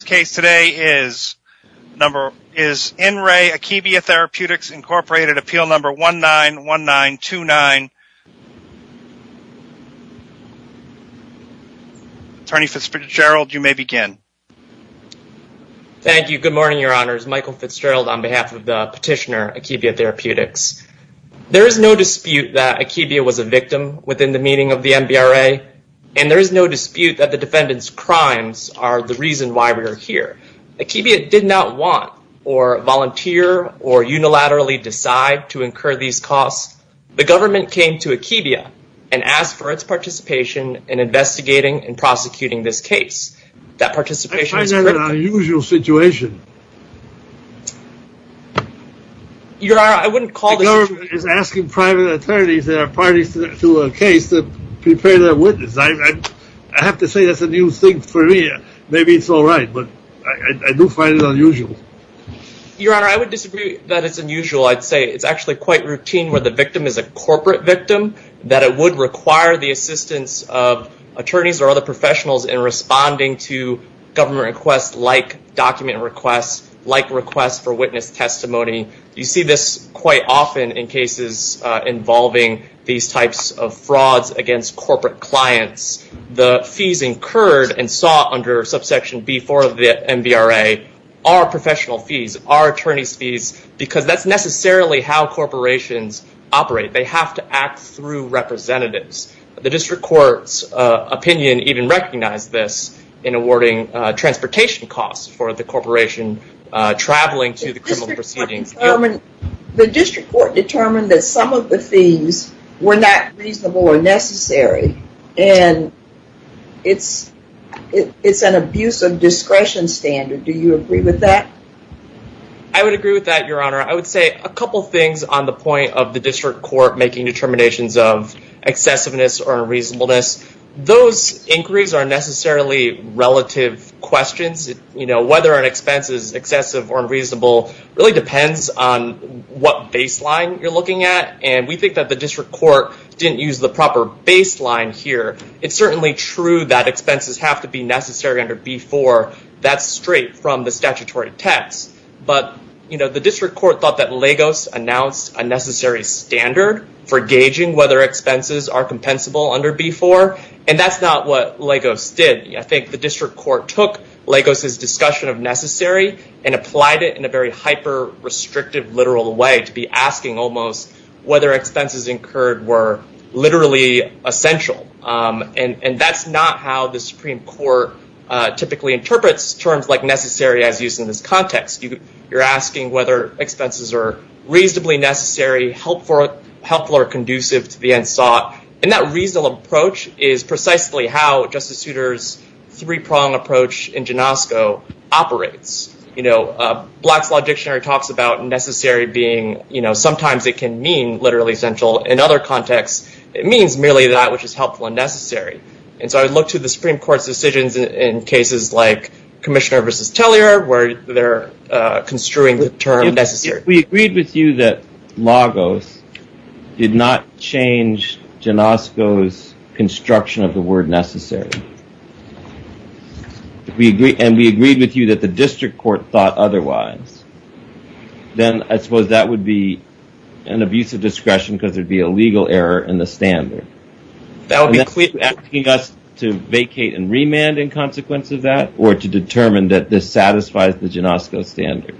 The case today is In Re Akebia Therapeutics Incorporated, appeal number 191929. Attorney Fitzgerald, you may begin. Thank you. Good morning, your honors. Michael Fitzgerald on behalf of the petitioner, Akebia Therapeutics. There is no dispute that Akebia was a victim within the meaning of the MBRA, and there Akebia did not want, or volunteer, or unilaterally decide to incur these costs. The government came to Akebia and asked for its participation in investigating and prosecuting this case. I find that an unusual situation. Your honor, I wouldn't call this a situation. The government is asking private attorneys that are parties to a case to prepare their witness. I have to say that's a new thing for me. Maybe it's all right, but I do find it unusual. Your honor, I would disagree that it's unusual. I'd say it's actually quite routine where the victim is a corporate victim, that it would require the assistance of attorneys or other professionals in responding to government requests like document requests, like requests for witness testimony. You see this quite often in cases involving these types of frauds against corporate clients. The fees incurred and sought under subsection B4 of the MBRA are professional fees, are attorney's fees, because that's necessarily how corporations operate. They have to act through representatives. The district court's opinion even recognized this in awarding transportation costs for the corporation traveling to the criminal proceedings. The district court determined that some of the fees were not reasonable or necessary, and it's an abuse of discretion standard. Do you agree with that? I would agree with that, your honor. I would say a couple things on the point of the district court making determinations of excessiveness or unreasonableness. Those inquiries are necessarily relative questions. Whether an expense is excessive or unreasonable really depends on what baseline you're looking at, and we think that the district court didn't use the proper baseline here. It's certainly true that expenses have to be necessary under B4. That's straight from the statutory text, but the district court thought that Lagos announced a necessary standard for gauging whether expenses are compensable under B4, and that's not what Lagos did. I think the district court took Lagos' discussion of necessary and applied it in a very hyper-restrictive literal way to be asking almost whether expenses incurred were literally essential, and that's not how the Supreme Court typically interprets terms like necessary as used in this context. You're asking whether expenses are reasonably necessary, helpful, or conducive to the end precisely how Justice Souter's three-pronged approach in Janosko operates. Black's Law Dictionary talks about necessary being sometimes it can mean literally essential. In other contexts, it means merely that which is helpful and necessary, and so I would look to the Supreme Court's decisions in cases like Commissioner v. Tellier where they're construing the term necessary. If we agreed with you that Lagos did not change Janosko's construction of the word necessary, and we agreed with you that the district court thought otherwise, then I suppose that would be an abuse of discretion because there'd be a legal error in the standard. That would be asking us to vacate and remand in consequence of that or to determine that this satisfies the Janosko standard.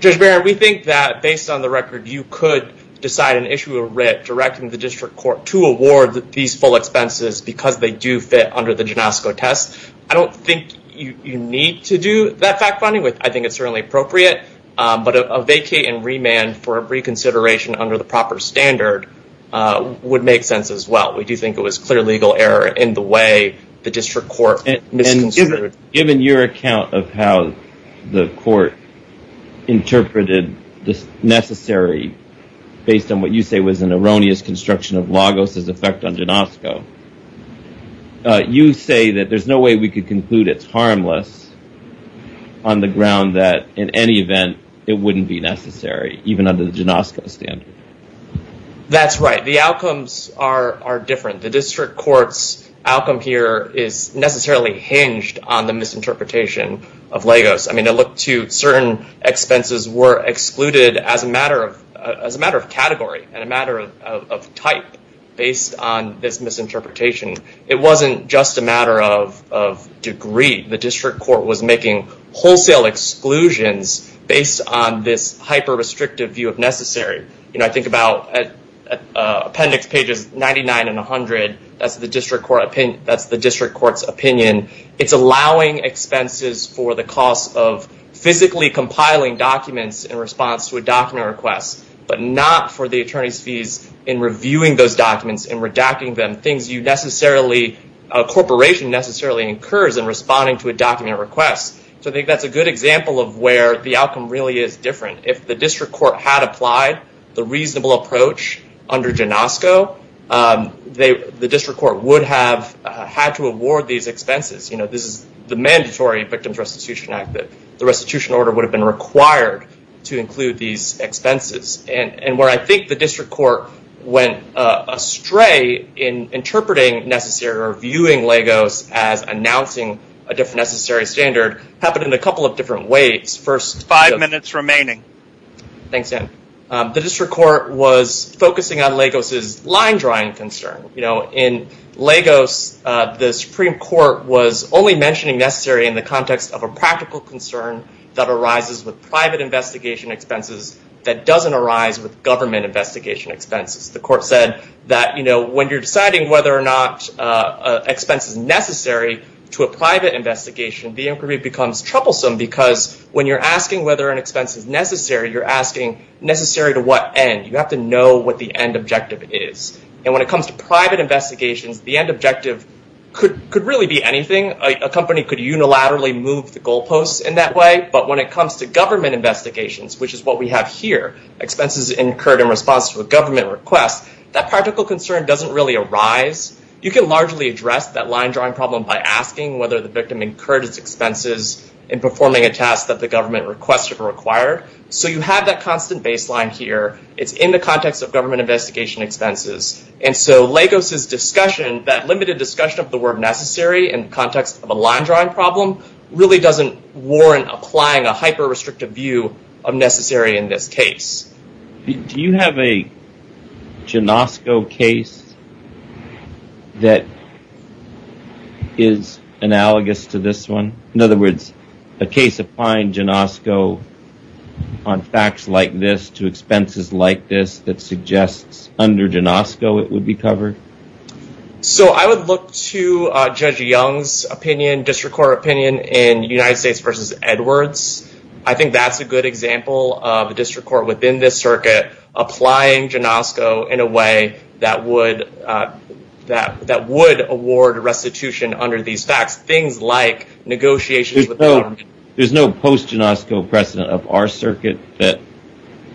Judge Barron, we think that based on the record, you could decide and issue a writ directing the district court to award these full expenses because they do fit under the Janosko test. I don't think you need to do that fact finding. I think it's certainly appropriate, but a vacate and remand for reconsideration under the proper standard would make sense as well. We do think it was clear legal error in the way the district court misconsidered. Given your account of how the court interpreted this necessary based on what you say was an erroneous construction of Lagos's effect on Janosko, you say that there's no way we could conclude it's harmless on the ground that in any event, it wouldn't be necessary even under the Janosko standard. That's right. The outcomes are different. The district court's outcome here is necessarily hinged on the misinterpretation of Lagos. I look to certain expenses were excluded as a matter of category and a matter of type based on this misinterpretation. It wasn't just a matter of degree. The district court was making wholesale exclusions based on this hyper-restrictive view of necessary. I think about appendix pages 99 and 100, that's the district court's opinion. It's allowing expenses for the cost of physically compiling documents in response to a document request, but not for the attorney's fees in reviewing those documents and redacting them. Things you necessarily, a corporation necessarily incurs in responding to a document request. I think that's a good example of where the outcome really is different. If the district court had applied the reasonable approach under Janosko, the district court would have had to award these expenses. This is the mandatory Victims Restitution Act. The restitution order would have been required to include these expenses. Where I think the district court went astray in interpreting necessary or viewing Lagos as announcing a different necessary standard happened in a couple of different ways. Five minutes remaining. Thanks, Dan. The district court was focusing on Lagos' line drawing concern. In Lagos, the Supreme Court was only mentioning necessary in the context of a practical concern that arises with private investigation expenses that doesn't arise with government investigation expenses. The court said that when you're deciding whether or not expense is necessary to a private investigation, the inquiry becomes troublesome because when you're asking whether an expense is necessary, you're asking necessary to what end? You have to know what the end objective is. When it comes to private investigations, the end objective could really be anything. A company could unilaterally move the goalposts in that way. When it comes to government investigations, which is what we have here, expenses incurred in response to a government request, that practical concern doesn't really arise. You can largely address that line drawing problem by asking whether the victim incurred its expenses in performing a task that the government requested or required. You have that constant baseline here. It's in the context of government investigation expenses. Lagos' discussion, that limited discussion of the word necessary in context of a line drawing problem, really doesn't warrant applying a hyper-restrictive view of necessary in this case. Do you have a Janosko case that is analogous to this one? In other words, a case applying Janosko on facts like this to expenses like this that suggests under Janosko it would be covered? I would look to Judge Young's opinion, district court opinion, in United States v. Edwards. I think that's a good example of a district court within this circuit applying Janosko in a way that would award restitution under these facts. Things like negotiations with the government. There's no post-Janosko precedent of our circuit that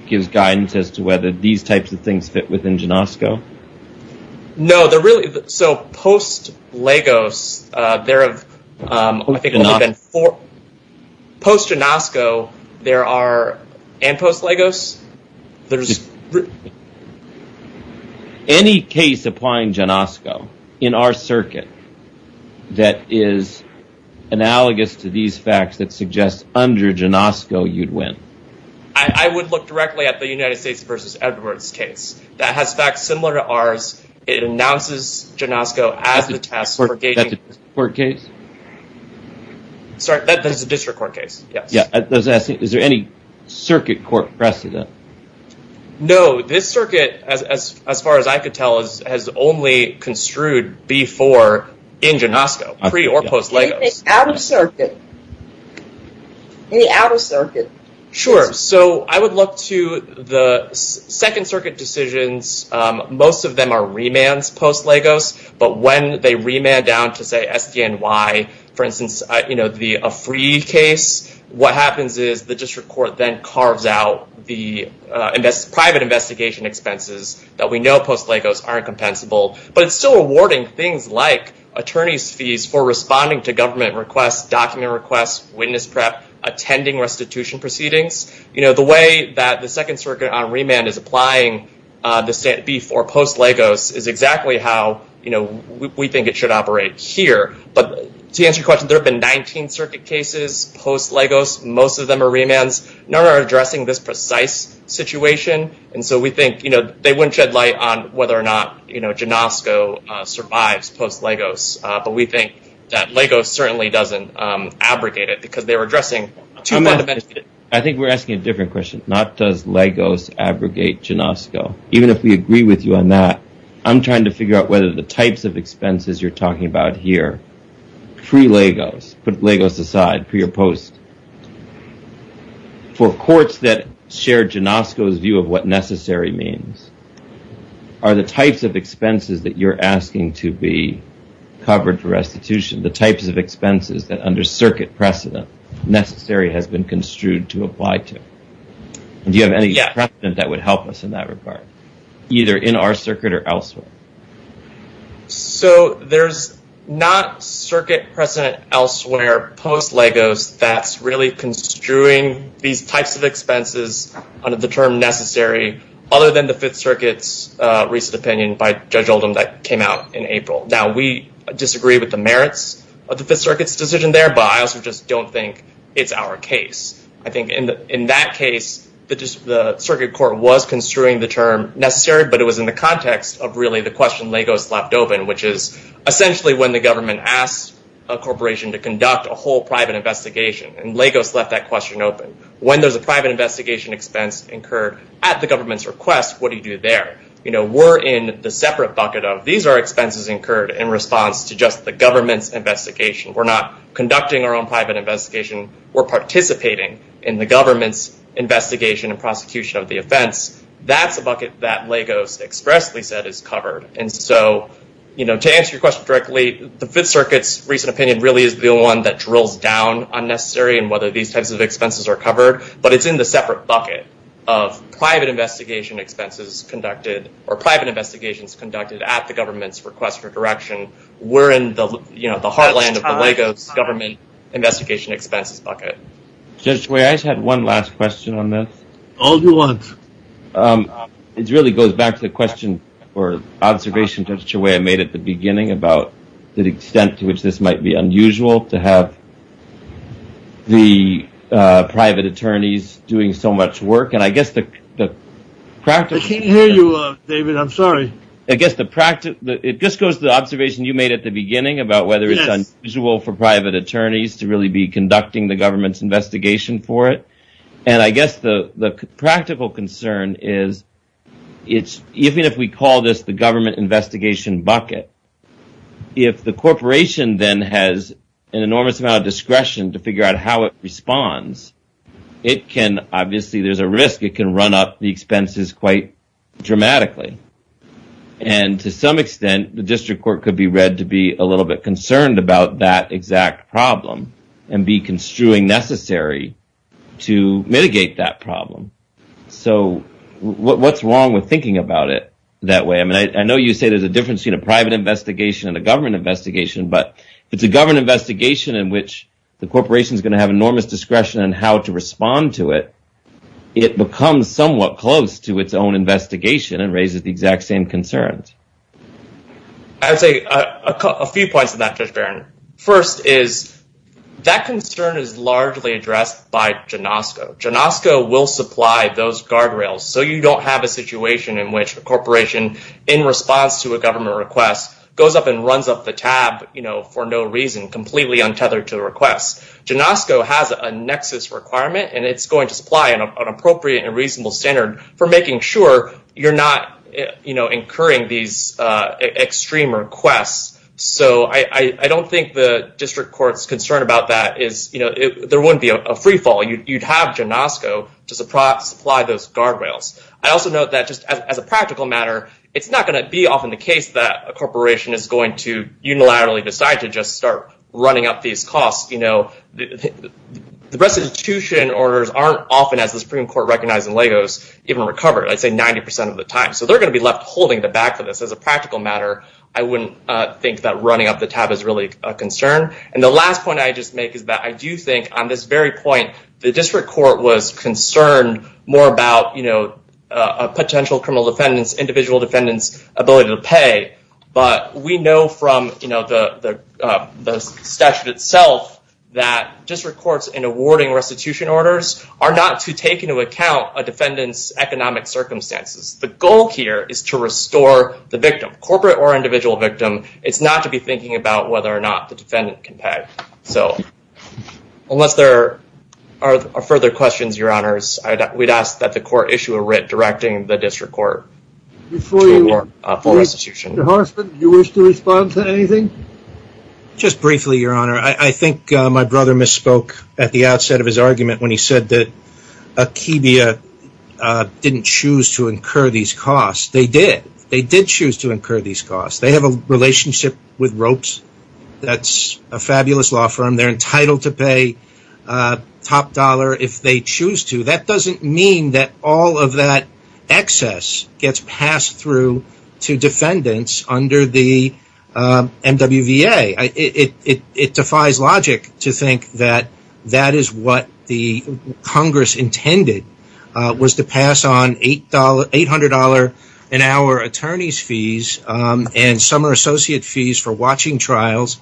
gives guidance as to whether these types of things fit within Janosko? No. So post-Lagos, there have only been four... post-Janosko, there are... and post-Lagos, there's... Any case applying Janosko in our circuit that is analogous to these facts that suggests under Janosko you'd win? I would look directly at the United States v. Edwards case that has facts similar to this. It announces Janosko as the test for gauging... That's a district court case? Sorry, that is a district court case, yes. Yeah, I was asking, is there any circuit court precedent? No, this circuit, as far as I could tell, has only construed before in Janosko, pre- or post-Lagos. Any out-of-circuit? Any out-of-circuit? Sure. So I would look to the second circuit decisions. Most of them are remands post-Lagos, but when they remand down to, say, SDNY, for instance, a free case, what happens is the district court then carves out the private investigation expenses that we know post-Lagos aren't compensable, but it's still awarding things like attorney's fees for responding to government requests, document requests, witness prep, attending restitution proceedings. The way that the second circuit on remand is applying this before post-Lagos is exactly how we think it should operate here. But to answer your question, there have been 19 circuit cases post-Lagos. Most of them are remands. None are addressing this precise situation, and so we think they wouldn't shed light on whether or not Janosko survives post-Lagos, but we think that Lagos certainly doesn't abrogate it because they're addressing two fundamental issues. I think we're asking a different question, not does Lagos abrogate Janosko. Even if we agree with you on that, I'm trying to figure out whether the types of expenses you're talking about here, pre-Lagos, put Lagos aside, pre or post, for courts that share Janosko's view of what necessary means, are the types of expenses that you're asking to be covered for restitution, the types of expenses that under circuit precedent necessary has been construed to apply to? Do you have any precedent that would help us in that regard, either in our circuit or elsewhere? So there's not circuit precedent elsewhere post-Lagos that's really construing these types of expenses under the term necessary, other than the Fifth Circuit's recent opinion by Judge Oldham that came out in April. Now we disagree with the merits of the Fifth Circuit's decision there, but I also just don't think it's our case. I think in that case, the circuit court was construing the term necessary, but it was in the context of really the question Lagos left open, which is essentially when the government asked a corporation to conduct a whole private investigation, and Lagos left that question open. When there's a private investigation expense incurred at the government's request, what do you do there? We're in the separate bucket of, these are expenses incurred in response to just the government's investigation. We're not conducting our own private investigation. We're participating in the government's investigation and prosecution of the offense. That's a bucket that Lagos expressly said is covered. And so to answer your question directly, the Fifth Circuit's recent opinion really is the one that drills down on necessary and whether these types of expenses are covered, but it's in the separate bucket of private investigation expenses conducted or private investigations conducted at the government's request for direction. We're in the heartland of the Lagos government investigation expenses bucket. Judge Chouet, I just had one last question on this. All you want. It really goes back to the question or observation Judge Chouet made at the beginning about the doing so much work. And I guess the practice... I can't hear you, David. I'm sorry. I guess the practice, it just goes to the observation you made at the beginning about whether it's unusual for private attorneys to really be conducting the government's investigation for it. And I guess the practical concern is it's, even if we call this the government investigation bucket, if the corporation then has an enormous amount of discretion to figure out how it does it, obviously there's a risk it can run up the expenses quite dramatically. And to some extent, the district court could be read to be a little bit concerned about that exact problem and be construing necessary to mitigate that problem. So what's wrong with thinking about it that way? I mean, I know you say there's a difference between a private investigation and a government investigation, but if it's a government investigation in which the corporation is going to have it becomes somewhat close to its own investigation and raises the exact same concerns. I would say a few points on that, Judge Barron. First is that concern is largely addressed by Genosco. Genosco will supply those guardrails so you don't have a situation in which a corporation in response to a government request goes up and runs up the tab for no reason, completely untethered to the request. Genosco has a nexus requirement and it's going to supply an appropriate and reasonable standard for making sure you're not incurring these extreme requests. So I don't think the district court's concern about that is there wouldn't be a freefall. You'd have Genosco to supply those guardrails. I also note that just as a practical matter, it's not going to be often the case that a the restitution orders aren't often, as the Supreme Court recognized in Lagos, even recovered. I'd say 90% of the time. So they're going to be left holding the back of this. As a practical matter, I wouldn't think that running up the tab is really a concern. And the last point I'd just make is that I do think on this very point, the district court was concerned more about a potential criminal defendant's, individual defendant's ability to pay. But we know from the statute itself that district courts in awarding restitution orders are not to take into account a defendant's economic circumstances. The goal here is to restore the victim, corporate or individual victim. It's not to be thinking about whether or not the defendant can pay. So unless there are further questions, your honors, we'd ask that the court issue a writ directing the district court to award a full restitution. Your Honor, I think my brother misspoke at the outset of his argument when he said that Akibia didn't choose to incur these costs. They did. They did choose to incur these costs. They have a relationship with Ropes. That's a fabulous law firm. They're entitled to pay top dollar if they choose to. That doesn't mean that all of that excess gets passed through to defendants under the MWVA. It defies logic to think that that is what the Congress intended was to pass on $800 an hour attorney's fees and summer associate fees for watching trials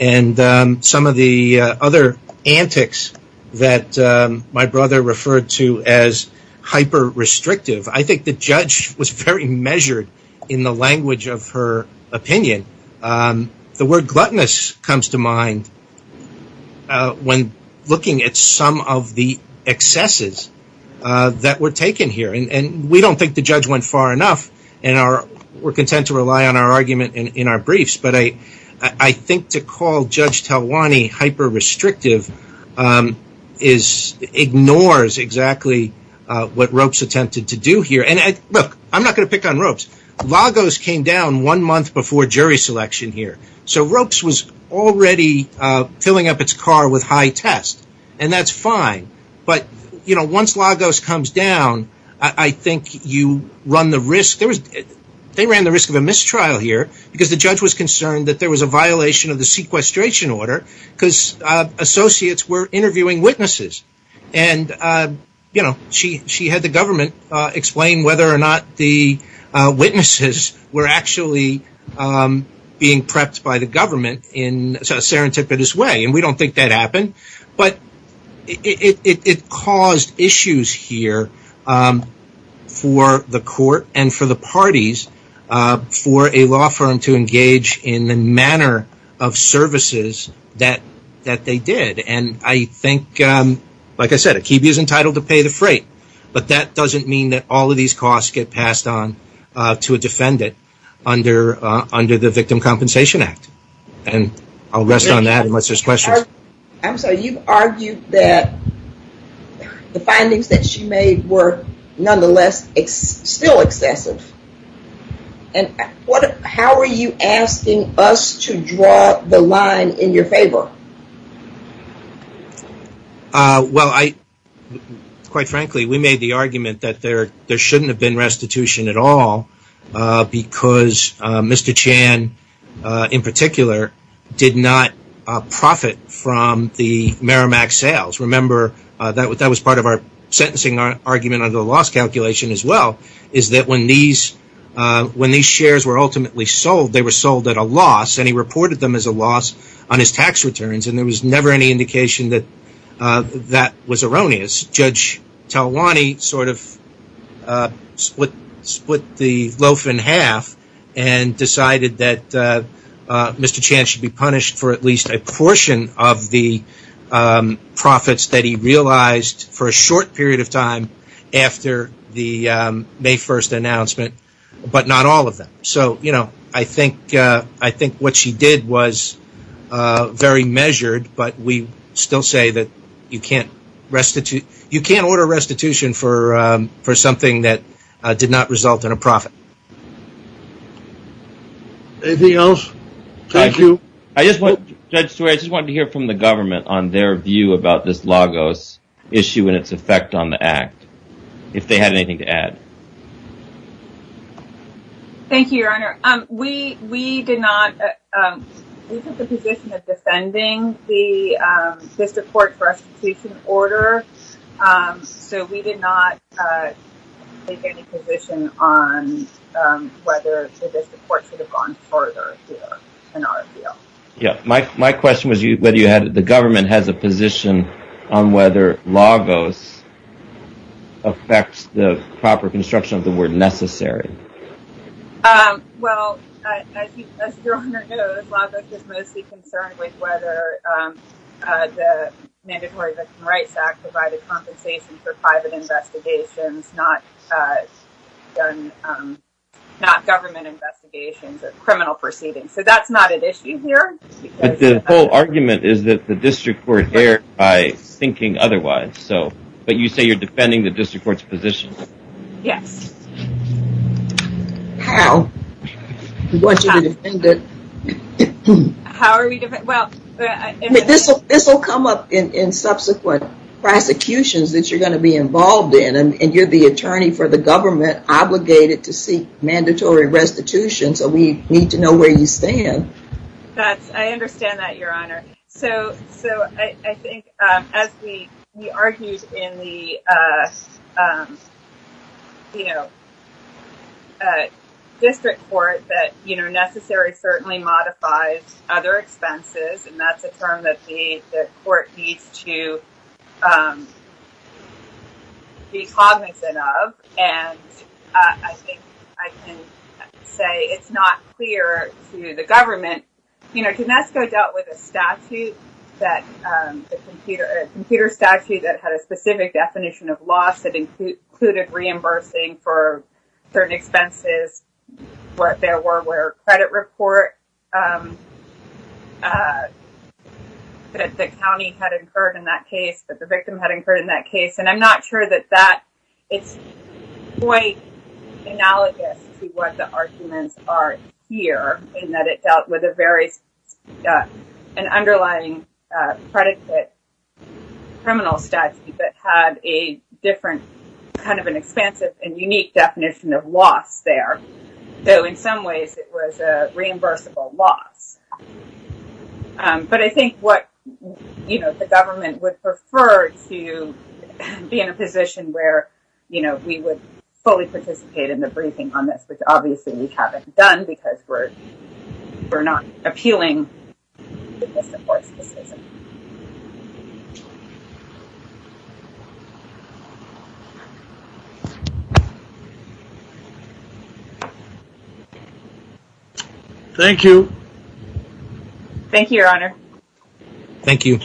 and some of the other antics that my brother referred to as hyper restrictive. I think the judge was very measured in the language of her opinion. The word gluttonous comes to mind when looking at some of the excesses that were taken here. We don't think the judge went far enough and we're content to rely on our argument in our briefs. I think to call Judge Talwani hyper restrictive ignores exactly what Ropes attempted to do here. Look, I'm not going to pick on Ropes. Lagos came down one month before jury selection here, so Ropes was already filling up its car with high test and that's fine. Once Lagos comes down, I think you run the risk. They ran the risk of a mistrial here because the judge was concerned that there was a violation of the sequestration order because associates were interviewing witnesses. She had the government explain whether or not the witnesses were actually being prepped by the government in a serendipitous way and we don't think that happened. It caused issues here for the court and for the parties for a law firm to engage in the manner of services that they did. I think, like I said, Akibe is entitled to pay the freight, but that doesn't mean that all of these costs get passed on to a defendant under the Victim Compensation Act and I'll rest on that unless there's questions. I'm sorry, you've argued that the findings that she made were nonetheless still excessive. How are you asking us to draw the line in your favor? Well, quite frankly, we made the argument that there shouldn't have been restitution at all because Mr. Chan, in particular, did not profit from the Merrimack sales. Remember, that was part of our sentencing argument under the loss calculation as well, is that when these shares were ultimately sold, they were sold at a loss and he reported them as a loss on his tax returns and there was never any indication that that was erroneous. It's Judge Talwani sort of split the loaf in half and decided that Mr. Chan should be punished for at least a portion of the profits that he realized for a short period of time after the May 1st announcement, but not all of them. So, you know, I think what she did was very measured, but we still say that you can't order restitution for something that did not result in a profit. Anything else? I just wanted to hear from the government on their view about this Lagos issue and its effect on the Act, if they had anything to add. Thank you, Your Honor. We did not, we took the position of defending the Vista Court restitution order, so we did not take any position on whether the Vista Court should have gone further here in our view. Yeah, my question was whether the government has a position on whether Lagos affects the proper construction of the word necessary. Well, as Your Honor knows, Lagos is mostly concerned with whether the Mandatory Victim Rights Act provided compensation for private investigations, not government investigations of criminal proceedings. So that's not an issue here. But the whole argument is that the district court erred by thinking otherwise, but you say you're defending the district court's position. Yes. How? How are we defending, well, this will come up in subsequent prosecutions that you're going to be involved in, and you're the attorney for the government obligated to seek mandatory restitution, so we need to know where you stand. I understand that, Your Honor. So I think as we argued in the district court that necessary certainly modifies other expenses, and that's a term that the court needs to be cognizant of, and I think I can say it's not clear to the government, you know, Ginesco dealt with a statute that, a computer statute that had a specific definition of loss that included reimbursing for certain expenses, what there were credit reports that the county had incurred in that case, that the victim had incurred in that case, and I'm not sure that that, it's quite analogous to what the court heard here, in that it dealt with a very, an underlying predicate criminal statute that had a different, kind of an expansive and unique definition of loss there, so in some ways it was a reimbursable loss, but I think what, you know, the government would prefer to be in a position where, you know, we would fully participate in the briefing on this, which obviously we haven't done, because we're not appealing the district court's decision. Thank you. Thank you, Your Honor. Thank you.